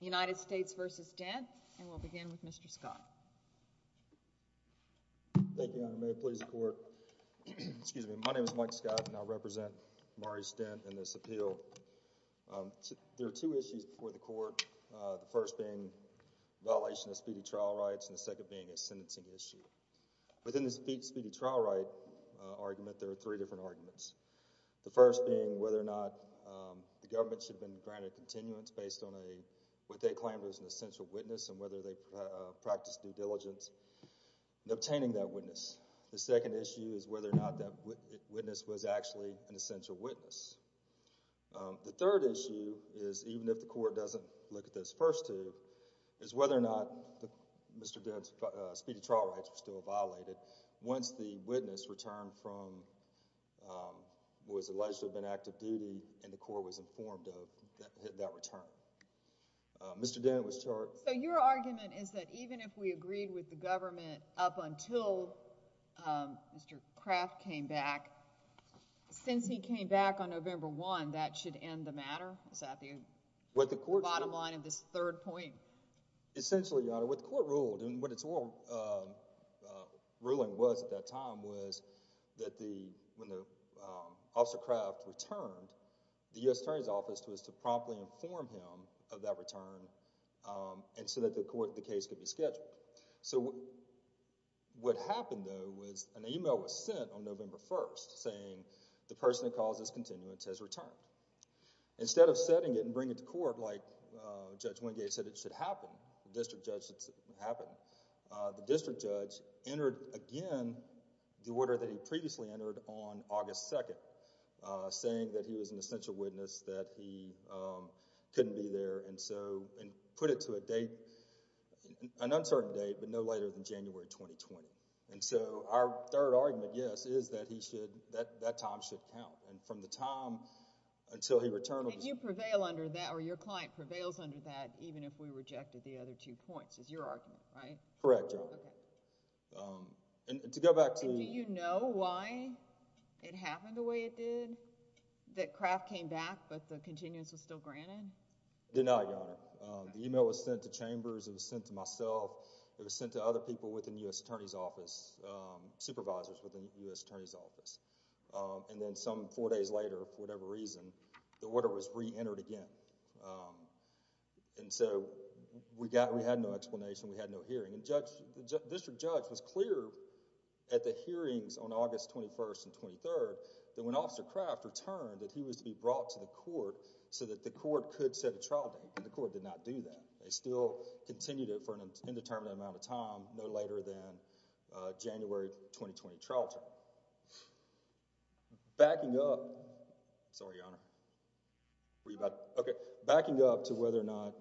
United States v. Dent, and we'll begin with Mr. Scott. Thank you, Your Honor. May it please the Court. Excuse me. My name is Mike Scott, and I represent Maurice Dent in this appeal. There are two issues before the Court, the first being violation of speedy trial rights and the second being a sentencing issue. Within the speedy trial right argument, there are three different arguments. The first being whether or not the government should have been granted continuance based on what they claimed was an essential witness and whether they practiced due diligence in obtaining that witness. The second issue is whether or not that witness was actually an essential witness. The third issue is, even if the Court doesn't look at those first two, is whether or not Mr. Dent's speedy trial rights were still violated once the witness returned from what was alleged to have been active duty and the Court was informed of that return. Mr. Dent was charged... So your argument is that even if we agreed with the government up until Mr. Kraft came back, since he came back on November 1, that should end the matter? Is that the bottom line of this third point? Essentially, Your Honor, what the Court ruled, and what its ruling was at that time, was that when Officer Kraft returned, the U.S. Attorney's Office was to promptly inform him of that return and so that the case could be scheduled. So what happened, though, was an email was sent on November 1 saying the person that caused this continuance has returned. Instead of setting it and bringing it to court like Judge Wingate said it should happen, the district judge entered again the order that he previously entered on August 2, saying that he was an essential witness, that he couldn't be there, and put it to an uncertain date, but no later than January 2020. And so our third argument, yes, is that that time should count. And from the time until he returned... And you prevail under that, or your client prevails under that, even if we rejected the other two points, is your argument, right? Correct, Your Honor. Okay. And to go back to... And do you know why it happened the way it did, that Kraft came back but the continuance was still granted? Denied, Your Honor. The email was sent to Chambers, it was sent to myself, it was sent to other people within the U.S. Attorney's Office, supervisors within the U.S. Attorney's Office. And then some four days later, for whatever reason, the order was re-entered again. And so we had no explanation, we had no hearing. And the district judge was clear at the hearings on August 21 and 23 that when Officer Kraft returned, that he was to be brought to the court so that the court could set a trial date. And the court did not do that. They still continued it for an indeterminate amount of time, no later than January 2020 trial time. Backing up... Sorry, Your Honor. Were you about... Okay. Backing up to whether or not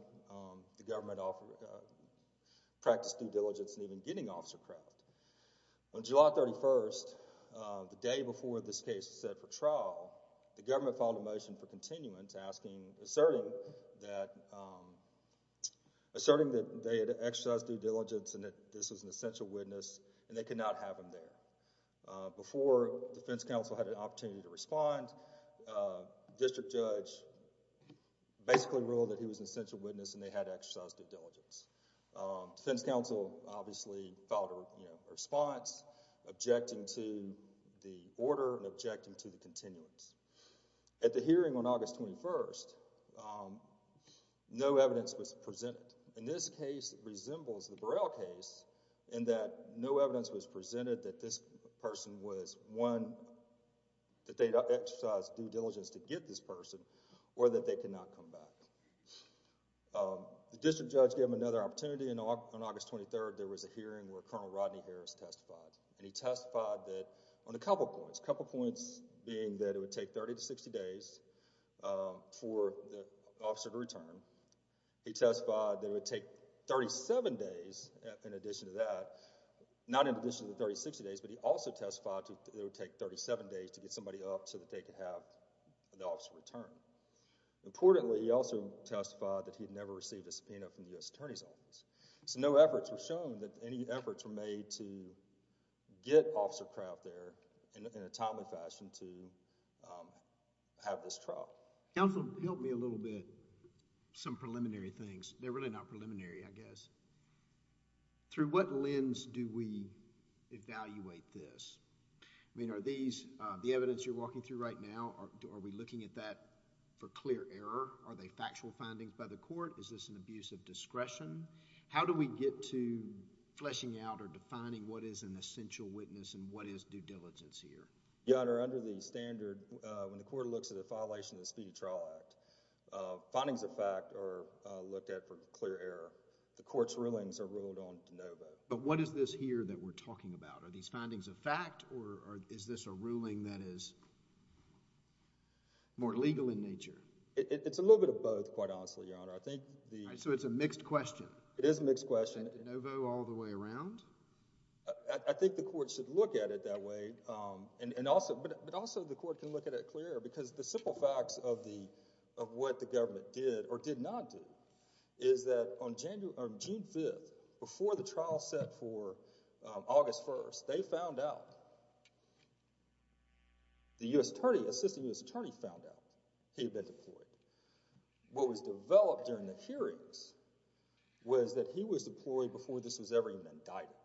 the government practiced due diligence in even getting Officer Kraft. On July 31, the day before this case was set for trial, the government filed a motion for continuance, asking, asserting that, asserting that they had exercised due diligence and that this was an essential witness and they could not have him there. Before defense counsel had an opportunity to respond, district judge basically ruled that he was an essential witness and they had exercised due diligence. Defense counsel obviously filed a response, objecting to the order and objecting to the continuance. At the hearing on August 21, no evidence was presented. In this case, it resembles the Burrell case in that no evidence was presented that this person was one, that they exercised due diligence to get this person or that they could not come back. The district judge gave him another opportunity. On August 23, there was a hearing where Colonel Rodney Harris testified. He testified on a couple of points, a couple of points being that it would take 30 to 60 days for the officer to return. He testified that it would take 37 days in addition to that, not in addition to the 30 to 60 days, but he also testified that it would take 37 days to get somebody up so that they could have the officer return. Importantly, he also testified that he had never received a subpoena from the U.S. Attorney's Office. So, no efforts were shown that any efforts were made to get Officer Kraut there in a timely fashion to have this trial. Counsel, help me a little bit. Some preliminary things. They're really not preliminary, I guess. Through what lens do we evaluate this? I mean, are these, the evidence you're walking through right now, are we looking at that for clear error? Are they factual findings by the court? Is this an abuse of discretion? How do we get to fleshing out or defining what is an essential witness and what is due diligence here? Your Honor, under the standard, when the court looks at a violation of the Speedy Trial Act, findings of fact are looked at for clear error. The court's rulings are ruled on de novo. But what is this here that we're talking about? Are these findings of fact or is this a ruling that is more legal in nature? It's a little bit of both, quite honestly, Your Honor. So it's a mixed question. It is a mixed question. De novo all the way around? I think the court should look at it that way. But also the court can look at it clearer because the simple facts of what the government did or did not do is that on June 5th, before the trial set for August 1st, they found out, the Assistant U.S. Attorney found out he had been deployed. What was developed during the hearings was that he was deployed before this was ever even indicted.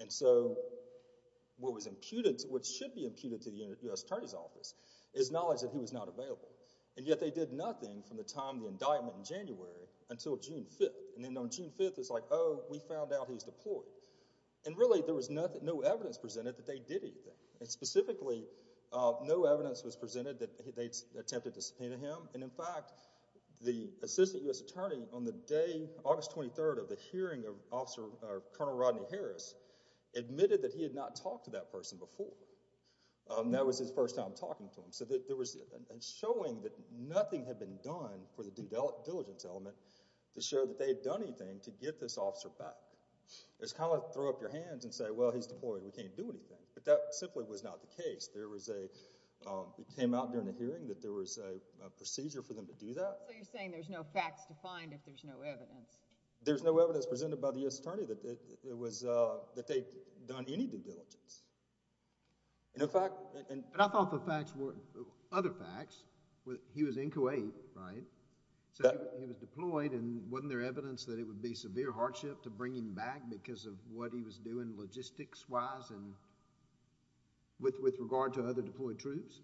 And so what was imputed, what should be imputed to the U.S. Attorney's Office is knowledge that he was not available. And yet they did nothing from the time of the indictment in January until June 5th. And then on June 5th, it's like, oh, we found out he was deployed. And really, there was no evidence presented that they did anything. And specifically, no evidence was presented that they attempted to subpoena him. And in fact, the Assistant U.S. Attorney, on the day, August 23rd, of the hearing, Colonel Rodney Harris admitted that he had not talked to that person before. That was his first time talking to him. So there was a showing that nothing had been done for the due diligence element to show that they had done anything to get this officer back. It's kind of like throw up your hands and say, well, he's deployed, we can't do anything. But that simply was not the case. There was a—it came out during the hearing that there was a procedure for them to do that. So you're saying there's no facts to find if there's no evidence. There's no evidence presented by the U.S. Attorney that they'd done any due diligence. And in fact— But I thought the facts were—other facts. He was in Kuwait, right? So he was deployed, and wasn't there evidence that it would be severe hardship to bring him back because of what he was doing logistics-wise and with regard to other deployed troops?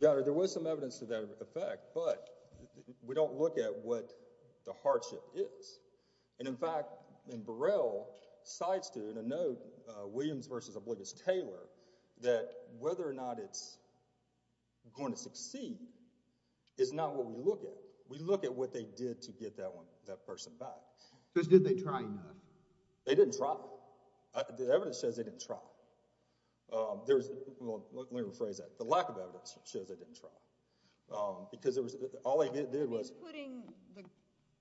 Yeah, there was some evidence to that effect, but we don't look at what the hardship is. And in fact, and Burrell cites it in a note, Williams v. Obligus Taylor, that whether or not it's going to succeed is not what we look at. We look at what they did to get that person back. Because did they try enough? They didn't try. The evidence says they didn't try. Let me rephrase that. The lack of evidence shows they didn't try. Because all they did was— Putting the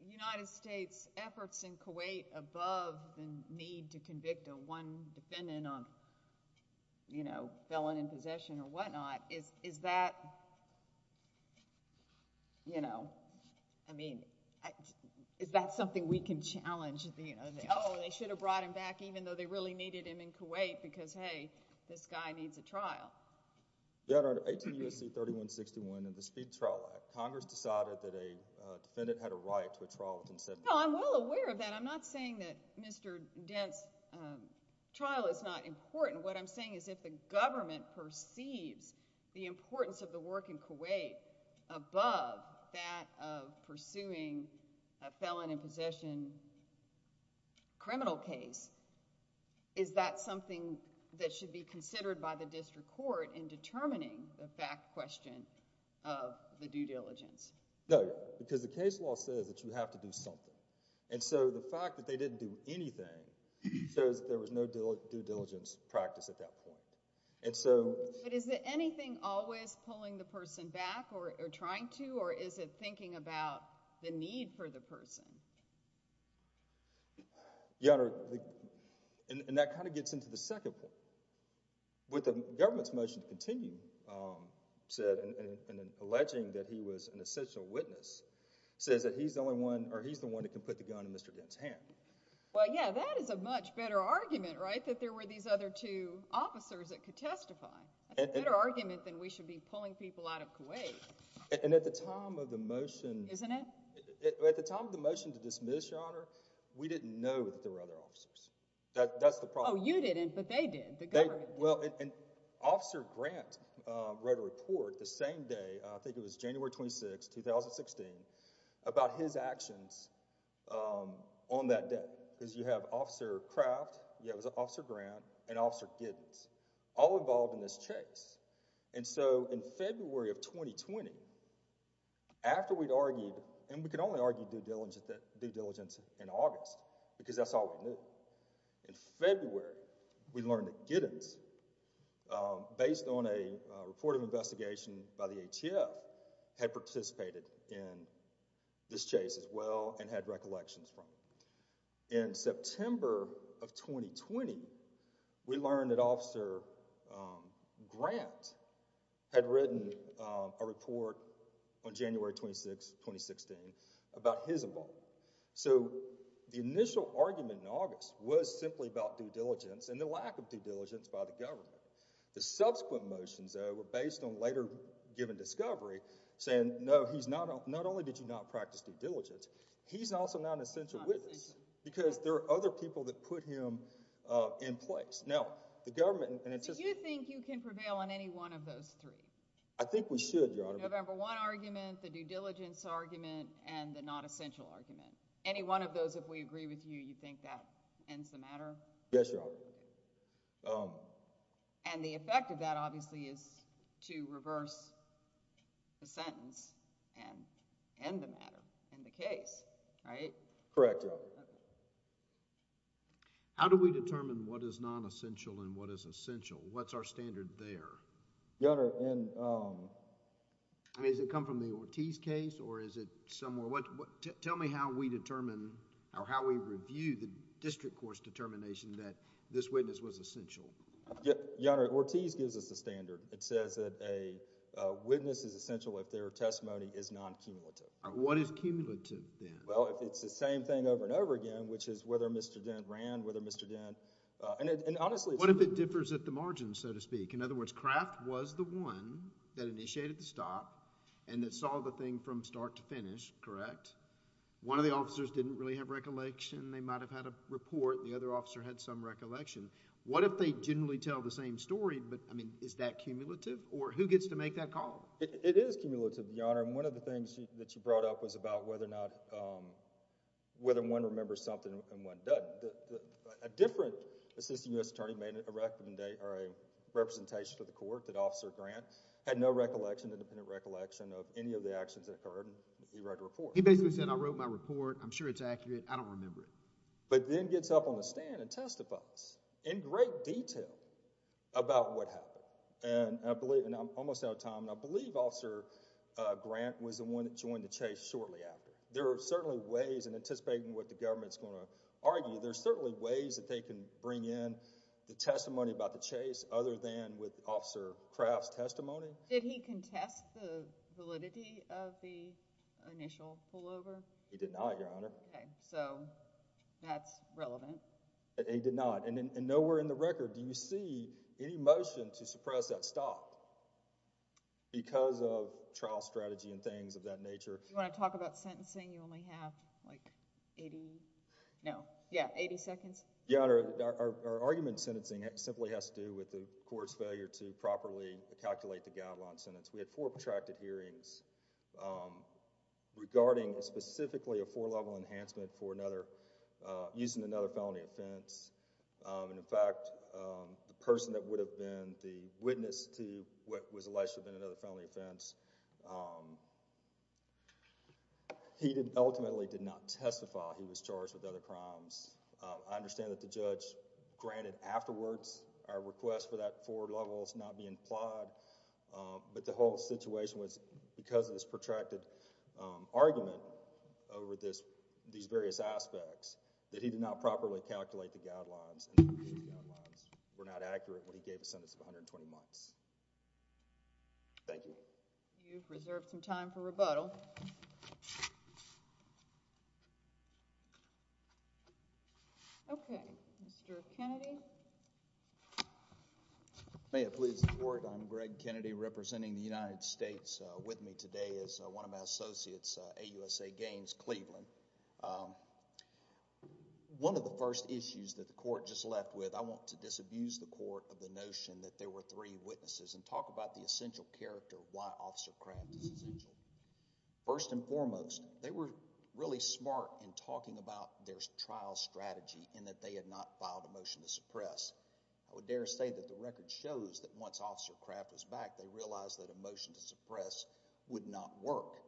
United States' efforts in Kuwait above the need to convict a one defendant on felon in possession or whatnot, is that, you know— I mean, is that something we can challenge? Oh, they should have brought him back even though they really needed him in Kuwait because, hey, this guy needs a trial. Your Honor, 18 U.S.C. 3161 of the Speed Trial Act, Congress decided that a defendant had a right to a trial of consent. No, I'm well aware of that. I'm not saying that Mr. Dent's trial is not important. What I'm saying is if the government perceives the importance of the work in Kuwait above that of pursuing a felon in possession criminal case, is that something that should be considered by the district court in determining the fact question of the due diligence? No, because the case law says that you have to do something. And so the fact that they didn't do anything shows that there was no due diligence practice at that point. But is it anything always pulling the person back or trying to, or is it thinking about the need for the person? Your Honor, and that kind of gets into the second point. What the government's motion to continue said, alleging that he was an essential witness, says that he's the one that can put the gun in Mr. Dent's hand. Well, yeah, that is a much better argument, right, that there were these other two officers that could testify. That's a better argument than we should be pulling people out of Kuwait. And at the time of the motion— Isn't it? At the time of the motion to dismiss, Your Honor, we didn't know that there were other officers. That's the problem. Oh, you didn't, but they did, the government did. Well, and Officer Grant wrote a report the same day, I think it was January 26, 2016, about his actions on that day. Because you have Officer Kraft, you have Officer Grant, and Officer Giddens, all involved in this chase. And so in February of 2020, after we'd argued, and we could only argue due diligence in August, because that's all we knew. In February, we learned that Giddens, based on a report of investigation by the ATF, had participated in this chase as well and had recollections from it. In September of 2020, we learned that Officer Grant had written a report on January 26, 2016, about his involvement. So the initial argument in August was simply about due diligence and the lack of due diligence by the government. The subsequent motions, though, were based on later given discovery, saying, no, not only did you not practice due diligence, he's also not an essential witness, because there are other people that put him in place. Now, the government— Do you think you can prevail on any one of those three? I think we should, Your Honor. The November 1 argument, the due diligence argument, and the not essential argument. Any one of those, if we agree with you, you think that ends the matter? Yes, Your Honor. And the effect of that, obviously, is to reverse the sentence and end the matter, end the case, right? Correct, Your Honor. How do we determine what is non-essential and what is essential? What's our standard there? Your Honor, in... I mean, does it come from the Ortiz case or is it somewhere... Tell me how we determine or how we review the district court's determination that this witness was essential. Your Honor, Ortiz gives us a standard. It says that a witness is essential if their testimony is non-cumulative. What is cumulative then? Well, it's the same thing over and over again, which is whether Mr. Dent ran, whether Mr. Dent... And honestly... What if it differs at the margin, so to speak? In other words, Kraft was the one that initiated the stop and that saw the thing from start to finish, correct? One of the officers didn't really have recollection. They might have had a report. The other officer had some recollection. What if they generally tell the same story, but, I mean, is that cumulative? Or who gets to make that call? It is cumulative, Your Honor. And one of the things that you brought up was about whether or not... whether one remembers something and one doesn't. A different assistant U.S. attorney made a recommendation or a representation to the court that Officer Grant had no recollection, independent recollection of any of the actions that occurred. He wrote a report. He basically said, I wrote my report. I'm sure it's accurate. I don't remember it. But then gets up on the stand and testifies in great detail about what happened. And I'm almost out of time, and I believe Officer Grant was the one that joined the chase shortly after. There are certainly ways, and anticipating what the government is going to argue, there are certainly ways that they can bring in the testimony about the chase other than with Officer Kraft's testimony. Did he contest the validity of the initial pullover? He did not, Your Honor. Okay. So that's relevant. He did not. And nowhere in the record do you see any motion to suppress that stop because of trial strategy and things of that nature. Do you want to talk about sentencing? You only have like 80... no, yeah, 80 seconds. Your Honor, our argument in sentencing simply has to do with the court's failure to properly calculate the guideline sentence. We had four protracted hearings regarding specifically a four-level enhancement for another... using another felony offense. And in fact, the person that would have been the witness to what was alleged to have been another felony offense, he ultimately did not testify he was charged with other crimes. I understand that the judge granted afterwards our request for that four levels not be implied, but the whole situation was because of this protracted argument over these various aspects that he did not properly calculate the guidelines and these guidelines were not accurate when he gave a sentence of 120 months. Thank you. You've reserved some time for rebuttal. Okay. Mr. Kennedy? May it please the Court. I'm Greg Kennedy representing the United States. With me today is one of my associates, AUSA Gaines Cleveland. One of the first issues that the court just left with, I want to disabuse the court of the notion that there were three witnesses and talk about the essential character of why Officer Craft is essential. First and foremost, they were really smart in talking about their trial strategy and that they had not filed a motion to suppress. I would dare say that the record shows that once Officer Craft was back, they realized that a motion to suppress would not work.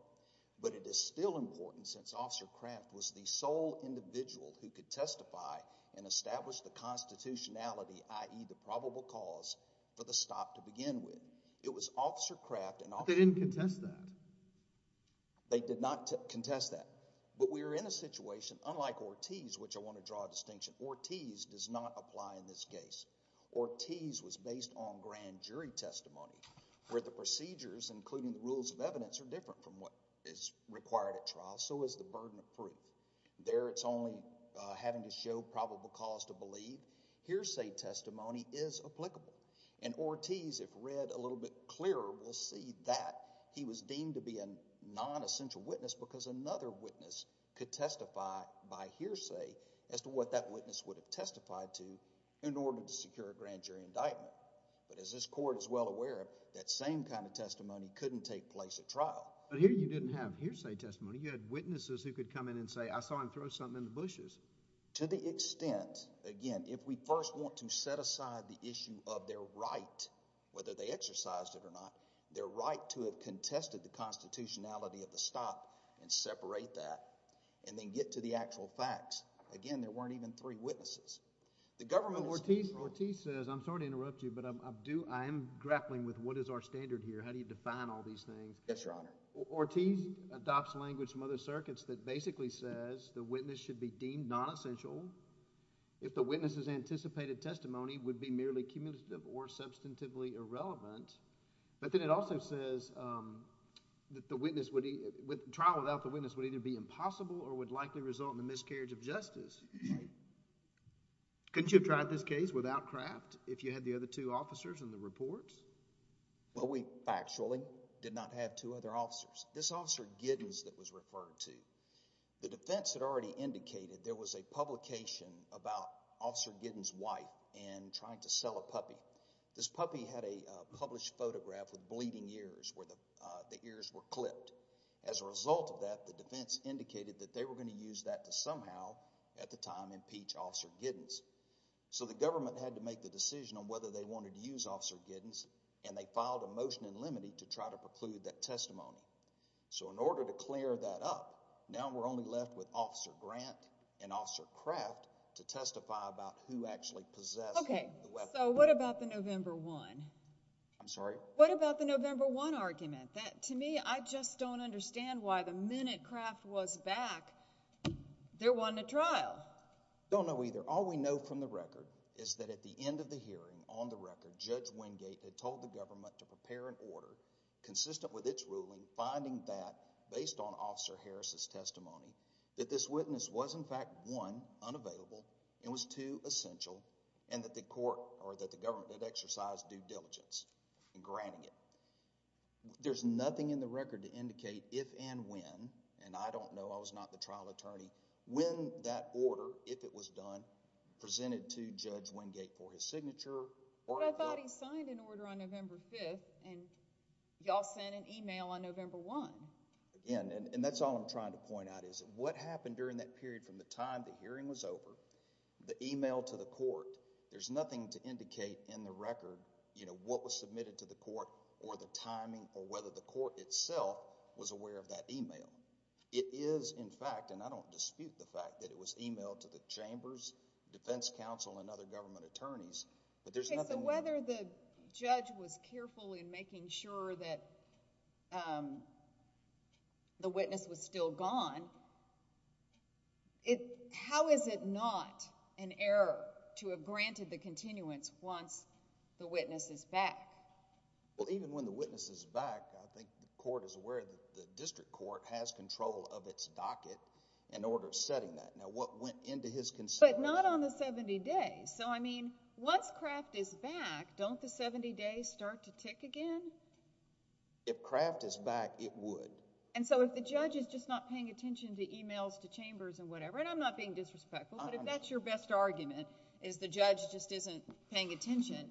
But it is still important since Officer Craft was the sole individual who could testify and establish the constitutionality, i.e., the probable cause for the stop to begin with. It was Officer Craft. But they didn't contest that. They did not contest that. But we are in a situation, unlike Ortiz, which I want to draw a distinction, Ortiz does not apply in this case. Ortiz was based on grand jury testimony where the procedures, including the rules of evidence, are different from what is required at trial, so is the burden of proof. There it's only having to show probable cause to believe. Hearsay testimony is applicable. And Ortiz, if read a little bit clearer, will see that he was deemed to be a nonessential witness because another witness could testify by hearsay as to what that witness would have testified to in order to secure a grand jury indictment. But as this court is well aware of, that same kind of testimony couldn't take place at trial. But here you didn't have hearsay testimony. You had witnesses who could come in and say, I saw him throw something in the bushes. To the extent, again, if we first want to set aside the issue of their right, whether they exercised it or not, their right to have contested the constitutionality of the stop and separate that and then get to the actual facts. Again, there weren't even three witnesses. The government is— But Ortiz says, I'm sorry to interrupt you, but I am grappling with what is our standard here. How do you define all these things? Yes, Your Honor. Ortiz adopts language from other circuits that basically says the witness should be deemed nonessential if the witness's anticipated testimony would be merely cumulative or substantively irrelevant. But then it also says that the witness would— trial without the witness would either be impossible or would likely result in the miscarriage of justice. Couldn't you have tried this case without Kraft if you had the other two officers in the reports? Well, we factually did not have two other officers. This Officer Giddens that was referred to, the defense had already indicated there was a publication about Officer Giddens' wife in trying to sell a puppy. This puppy had a published photograph with bleeding ears where the ears were clipped. As a result of that, the defense indicated that they were going to use that to somehow at the time impeach Officer Giddens. So the government had to make the decision on whether they wanted to use Officer Giddens, and they filed a motion in limine to try to preclude that testimony. So in order to clear that up, now we're only left with Officer Grant and Officer Kraft to testify about who actually possessed the weapon. So what about the November 1? I'm sorry? What about the November 1 argument? To me, I just don't understand why the minute Kraft was back, there wasn't a trial. Don't know either. All we know from the record is that at the end of the hearing, on the record, Judge Wingate had told the government to prepare an order consistent with its ruling, finding that, based on Officer Harris' testimony, that this witness was in fact one, unavailable, and was two, essential, and that the government had exercised due diligence in granting it. There's nothing in the record to indicate if and when, and I don't know, I was not the trial attorney, when that order, if it was done, presented to Judge Wingate for his signature. But I thought he signed an order on November 5th, and you all sent an email on November 1. And that's all I'm trying to point out, is what happened during that period from the time the hearing was over, the email to the court, there's nothing to indicate in the record, you know, what was submitted to the court, or the timing, or whether the court itself was aware of that email. It is, in fact, and I don't dispute the fact that it was emailed to the chambers, defense counsel, and other government attorneys, but there's nothing there. Okay, so whether the judge was careful in making sure that the witness was still gone, how is it not an error to have granted the continuance once the witness is back? Well, even when the witness is back, I think the court is aware that the district court has control of its docket in order of setting that. Now, what went into his consideration? But not on the 70 days. So, I mean, once Kraft is back, don't the 70 days start to tick again? If Kraft is back, it would. And so, if the judge is just not paying attention to emails to chambers and whatever, and I'm not being disrespectful, but if that's your best argument, is the judge just isn't paying attention,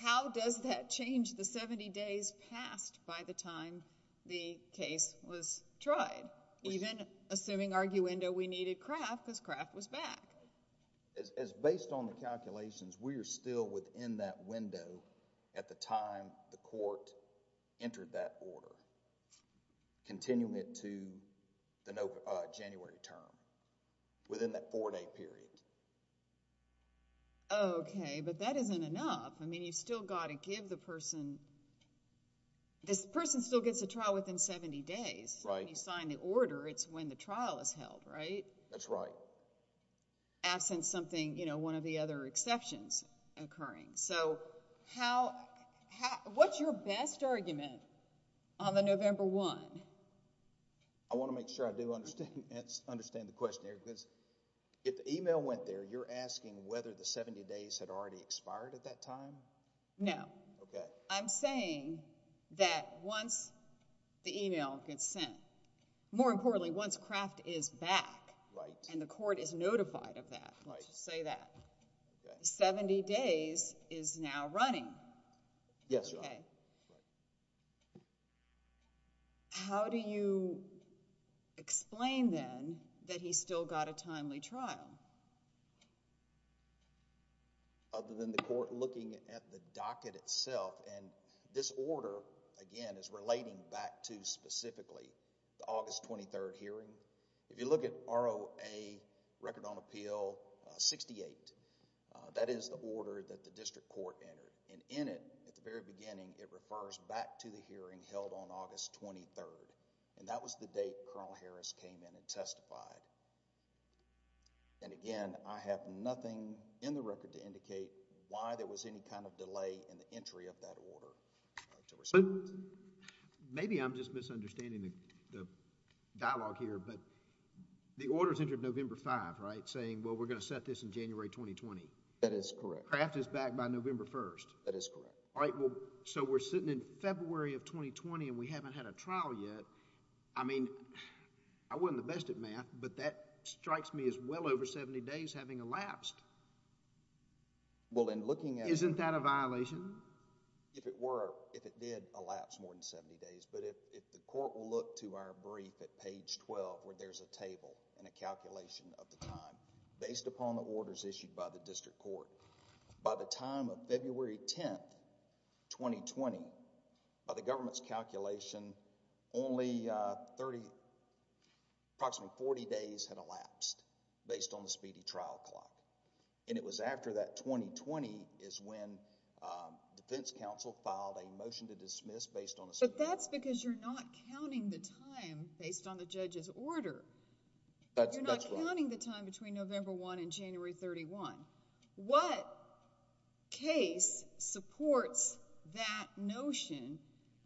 how does that change the 70 days passed by the time the case was tried? Even assuming arguendo, we needed Kraft because Kraft was back. As based on the calculations, we are still within that window at the time the court entered that order, continuing it to the January term, within that four-day period. Okay, but that isn't enough. I mean, you've still got to give the person, this person still gets a trial within 70 days. When you sign the order, it's when the trial is held, right? That's right. Absent something, you know, one of the other exceptions occurring. So, what's your best argument on the November 1? I want to make sure I do understand the question here because if the email went there, you're asking whether the 70 days had already expired at that time? No. Okay. I'm saying that once the email gets sent, more importantly, once Kraft is back and the court is notified of that, let's just say that, 70 days is now running. Yes, Your Honor. Okay. How do you explain then that he still got a timely trial? Other than the court looking at the docket itself, and this order, again, is relating back to specifically the August 23 hearing. If you look at ROA Record on Appeal 68, that is the order that the district court entered, and in it, at the very beginning, it refers back to the hearing held on August 23rd, and that was the date Colonel Harris came in and testified. And again, I have nothing in the record to indicate why there was any kind of delay in the entry of that order. But maybe I'm just misunderstanding the dialogue here, but the order's entered November 5, right, saying, well, we're going to set this in January 2020. That is correct. Kraft is back by November 1st. That is correct. All right. Well, so we're sitting in February of 2020, and we haven't had a trial yet. I mean, I wasn't the best at math, but that strikes me as well over 70 days having elapsed. Isn't that a violation? If it were, if it did elapse more than 70 days, but if the court will look to our brief at page 12 where there's a table and a calculation of the time based upon the orders issued by the district court, by the time of February 10th, 2020, by the government's calculation, only approximately 40 days had elapsed based on the speedy trial clock. And it was after that 2020 is when defense counsel filed a motion to dismiss based on a speedy trial clock. But that's because you're not counting the time based on the judge's order. That's right. You're not counting the time between November 1 and January 31. What case supports that notion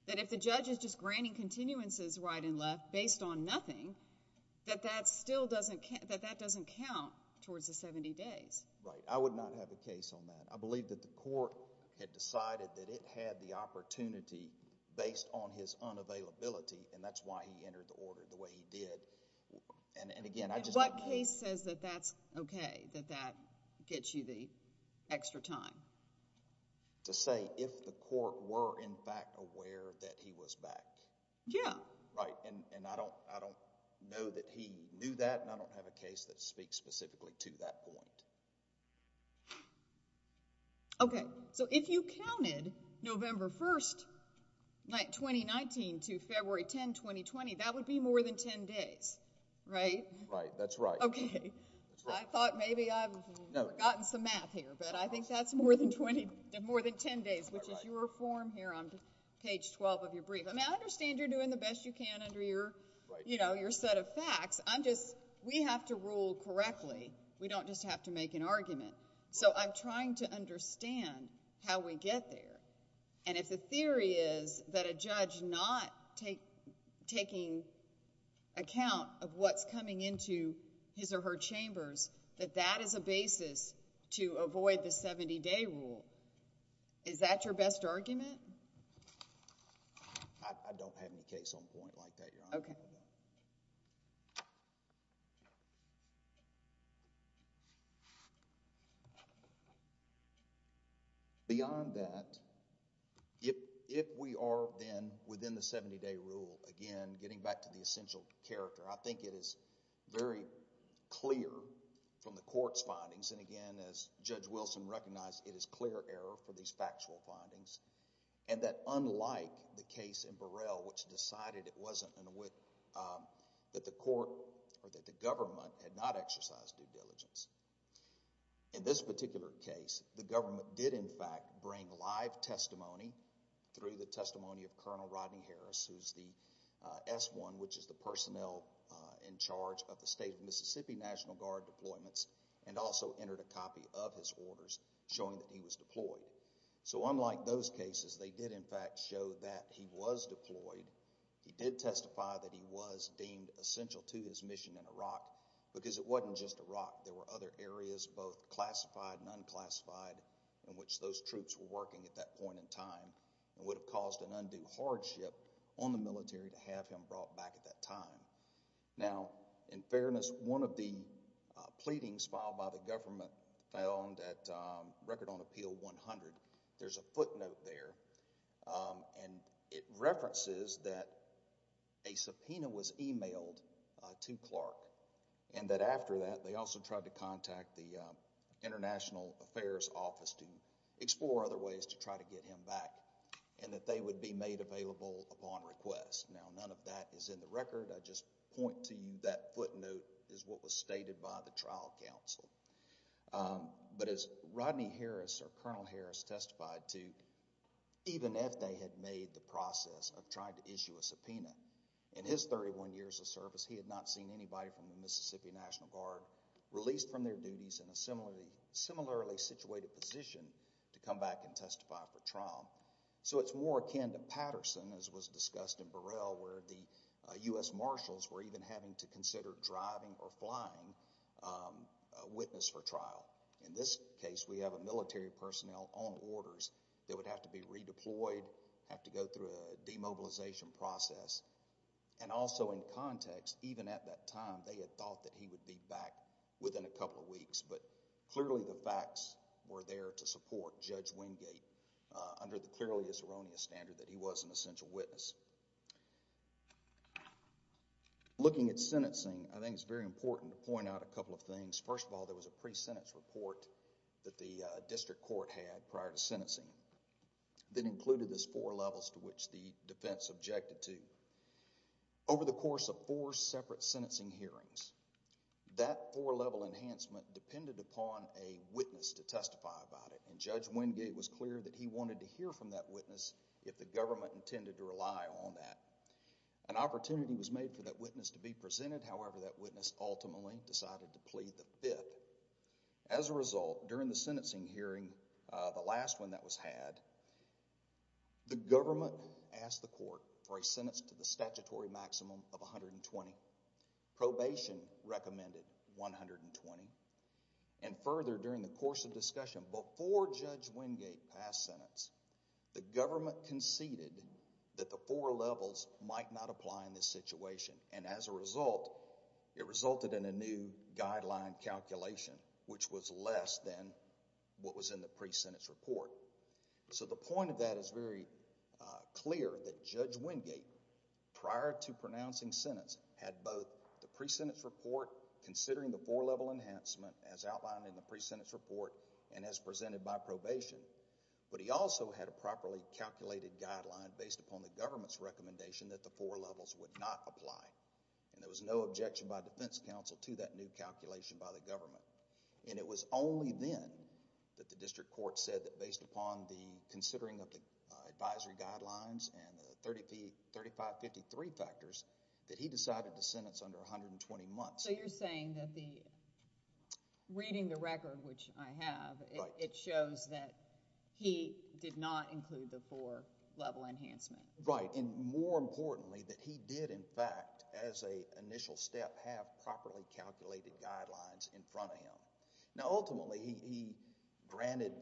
that if the judge is just granting continuances right and left based on nothing, that that doesn't count towards the 70 days? Right. I would not have a case on that. I believe that the court had decided that it had the opportunity based on his unavailability, and that's why he entered the order the way he did. And again, I just don't know. What case says that that's OK, that that gets you the extra time? To say if the court were in fact aware that he was back. Yeah. Right. And I don't know that he knew that, and I don't have a case that speaks specifically to that point. OK. So if you counted November 1, 2019, to February 10, 2020, that would be more than 10 days, right? Right. That's right. OK. I thought maybe I've forgotten some math here, but I think that's more than 10 days, which is your form here on page 12 of your brief. I mean, I understand you're doing the best you can under your set of facts. We have to rule correctly. We don't just have to make an argument. So I'm trying to understand how we get there. And if the theory is that a judge not taking account of what's coming into his or her chambers, that that is a basis to avoid the 70-day rule, is that your best argument? I don't have any case on point like that, Your Honor. OK. Beyond that, if we are then within the 70-day rule, again, getting back to the essential character, I think it is very clear from the court's findings, and again, as Judge Wilson recognized, it is clear error for these factual findings, and that unlike the case in Burrell, which decided it wasn't, that the court or that the government had not exercised due diligence, in this particular case, the government did, in fact, bring live testimony through the testimony of Colonel Rodney Harris, who's the S-1, which is the personnel in charge of the State of Mississippi National Guard deployments, and also entered a copy of his orders showing that he was deployed. So unlike those cases, they did, in fact, show that he was deployed. He did testify that he was deemed essential to his mission in Iraq, because it wasn't just Iraq. There were other areas, both classified and unclassified, in which those troops were working at that point in time, and would have caused an undue hardship on the military to have him brought back at that time. Now, in fairness, one of the pleadings filed by the government found that Record on Appeal 100, there's a footnote there, and it references that a subpoena was emailed to Clark, and that after that, they also tried to contact the International Affairs Office to explore other ways to try to get him back, and that they would be made available upon request. Now, none of that is in the record. I just point to you that footnote is what was stated by the trial counsel. But as Rodney Harris, or Colonel Harris, testified to, even if they had made the process of trying to issue a subpoena, in his 31 years of service, he had not seen anybody from the Mississippi National Guard released from their duties in a similarly situated position to come back and testify for trial. So it's more akin to Patterson, as was discussed in Burrell, where the U.S. Marshals were even having to consider driving or flying a witness for trial. In this case, we have a military personnel on orders that would have to be redeployed, have to go through a demobilization process, and also in context, even at that time, they had thought that he would be back within a couple of weeks, but clearly the facts were there to support Judge Wingate under the clearly erroneous standard that he was an essential witness. Looking at sentencing, I think it's very important to point out a couple of things. First of all, there was a pre-sentence report that the district court had prior to sentencing that included those four levels to which the defense objected to. Over the course of four separate sentencing hearings, that four-level enhancement depended upon a witness to testify about it, and Judge Wingate was clear that he wanted to hear from that witness if the government intended to rely on that. An opportunity was made for that witness to be presented, however, that witness ultimately decided to plead the fifth. As a result, during the sentencing hearing, the last one that was had, the government asked the court for a sentence to the statutory maximum of 120. Probation recommended 120. And further, during the course of discussion, before Judge Wingate passed sentence, the government conceded that the four levels might not apply in this situation, and as a result, it resulted in a new guideline calculation, which was less than what was in the pre-sentence report. So the point of that is very clear that Judge Wingate, prior to pronouncing sentence, had both the pre-sentence report, considering the four-level enhancement as outlined in the pre-sentence report and as presented by probation, but he also had a properly calculated guideline based upon the government's recommendation that the four levels would not apply. And there was no objection by defense counsel to that new calculation by the government. And it was only then that the district court said that based upon the considering of the advisory guidelines and the 3553 factors that he decided to sentence under 120 months. So you're saying that the... Reading the record, which I have, it shows that he did not include the four-level enhancement. Right, and more importantly, that he did, in fact, as an initial step, have properly calculated guidelines in front of him. Now, ultimately, he granted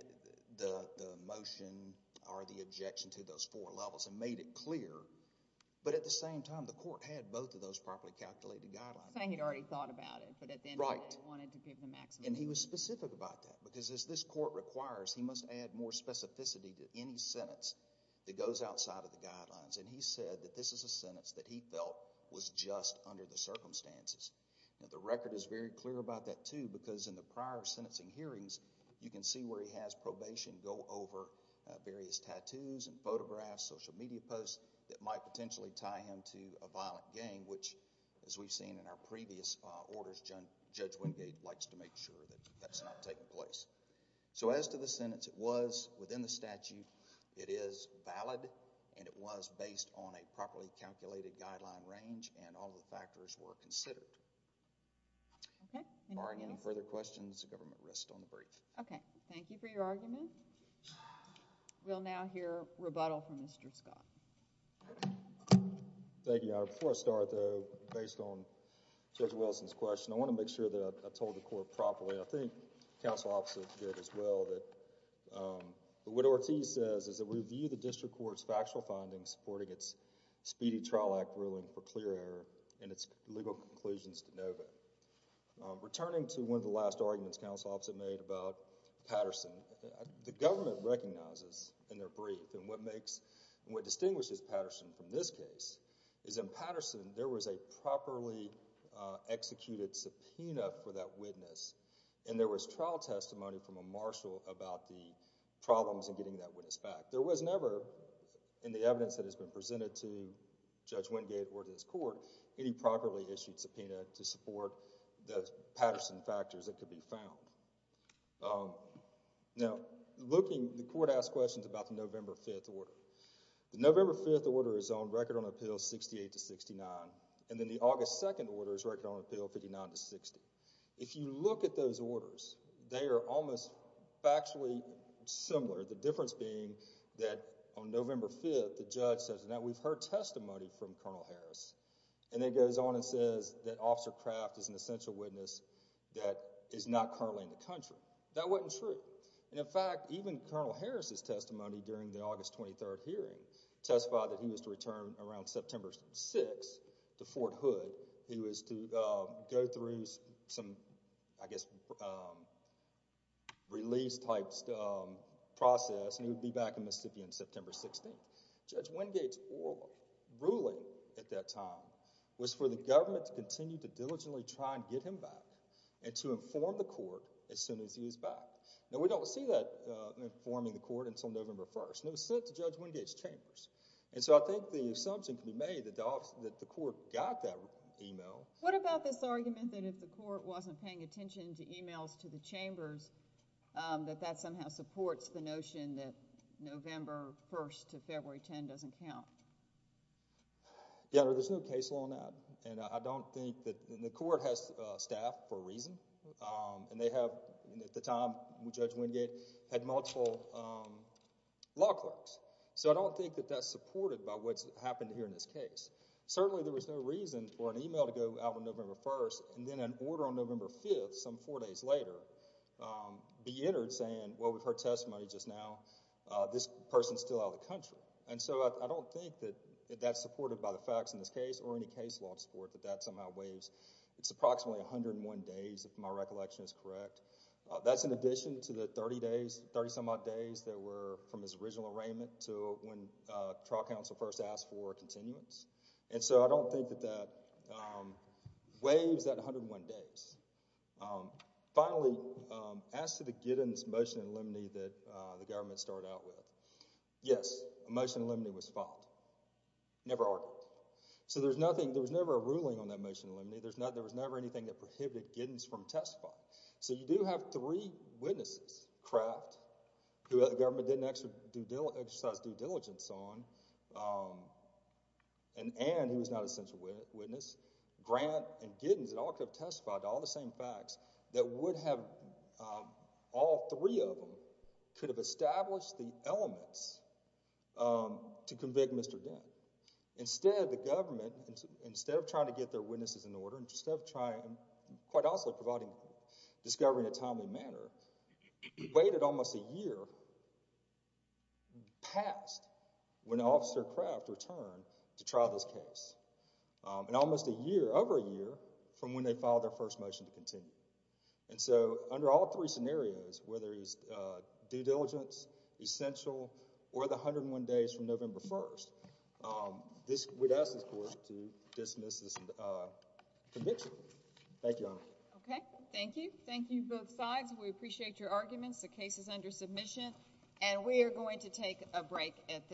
the motion or the objection to those four levels and made it clear, but at the same time, the court had both of those properly calculated guidelines. You're saying he'd already thought about it, but at the end of the day, he wanted to give the maximum. And he was specific about that, because as this court requires, he must add more specificity to any sentence that goes outside of the guidelines. And he said that this is a sentence that he felt was just under the circumstances. Now, the record is very clear about that, too, because in the prior sentencing hearings, you can see where he has probation go over various tattoos and photographs, social media posts that might potentially tie him to a violent gang, which, as we've seen in our previous orders, Judge Wingate likes to make sure that that's not taking place. So as to the sentence, it was within the statute. It is valid, and it was based on a properly calculated guideline range, and all the factors were considered. Okay. Any more questions? If there are any further questions, the government rests on the brief. Okay. Thank you for your argument. We'll now hear rebuttal from Mr. Scott. Thank you, Your Honor. Before I start, though, based on Judge Wilson's question, I want to make sure that I told the court properly. I think Counsel Opposite did as well. What Ortiz says is that we view the district court's factual findings supporting its Speedy Trial Act ruling for clear error and its legal conclusions de novo. Returning to one of the last arguments Counsel Opposite made about Patterson, the government recognizes in their brief, and what distinguishes Patterson from this case is in Patterson, there was a properly executed subpoena for that witness, and there was trial testimony from a marshal about the problems in getting that witness back. There was never, in the evidence that has been presented to Judge Wingate or to this court, any properly issued subpoena to support the Patterson factors that could be found. The November 5th order is on Record on Appeal 68-69, and then the August 2nd order is Record on Appeal 59-60. If you look at those orders, they are almost factually similar, the difference being that on November 5th, the judge says, now, we've heard testimony from Colonel Harris, and then goes on and says that Officer Kraft is an essential witness that is not currently in the country. That wasn't true. In fact, even Colonel Harris' testimony during the August 23rd hearing testified that he was to return around September 6th to Fort Hood. He was to go through some, I guess, release-type process, and he would be back in Mississippi on September 16th. Judge Wingate's ruling at that time was for the government to continue to diligently try and get him back and to inform the court as soon as he was back. Now, we don't see that informing the court until November 1st, and it was sent to Judge Wingate's chambers. And so I think the assumption can be made that the court got that email. What about this argument that if the court wasn't paying attention to emails to the chambers, that that somehow supports the notion that November 1st to February 10th doesn't count? Yeah, there's no case law on that, and I don't think that the court has staff for a reason. At the time, Judge Wingate had multiple law clerks, so I don't think that that's supported by what's happened here in this case. Certainly there was no reason for an email to go out on November 1st and then an order on November 5th, some four days later, be entered saying, well, with her testimony just now, this person's still out of the country. And so I don't think that that's supported by the facts in this case or any case law to support that that somehow weighs. It's approximately 101 days, if my recollection is correct. That's in addition to the 30 days, 30-some-odd days, that were from his original arraignment to when trial counsel first asked for a continuance. And so I don't think that that weighs that 101 days. Finally, as to the Giddens motion in limine that the government started out with, yes, a motion in limine was filed. Never argued. So there was never a ruling on that motion in limine. There was never anything that prohibited Giddens from testifying. So you do have three witnesses, Kraft, who the government didn't exercise due diligence on, and Ann, who was not a central witness, Grant, and Giddens, that all could have testified to all the same facts, that all three of them could have established the elements to convict Mr. Dent. Instead, the government, instead of trying to get their witnesses in order, and quite also providing discovery in a timely manner, waited almost a year past when Officer Kraft returned to trial this case. And almost a year, over a year, from when they filed their first motion to continue. And so under all three scenarios, whether it's due diligence, essential, or the 101 days from November 1st, we'd ask this court to dismiss this conviction. Thank you, Your Honor. Okay, thank you. Thank you, both sides. We appreciate your arguments. The case is under submission. And we are going to take a break at this time.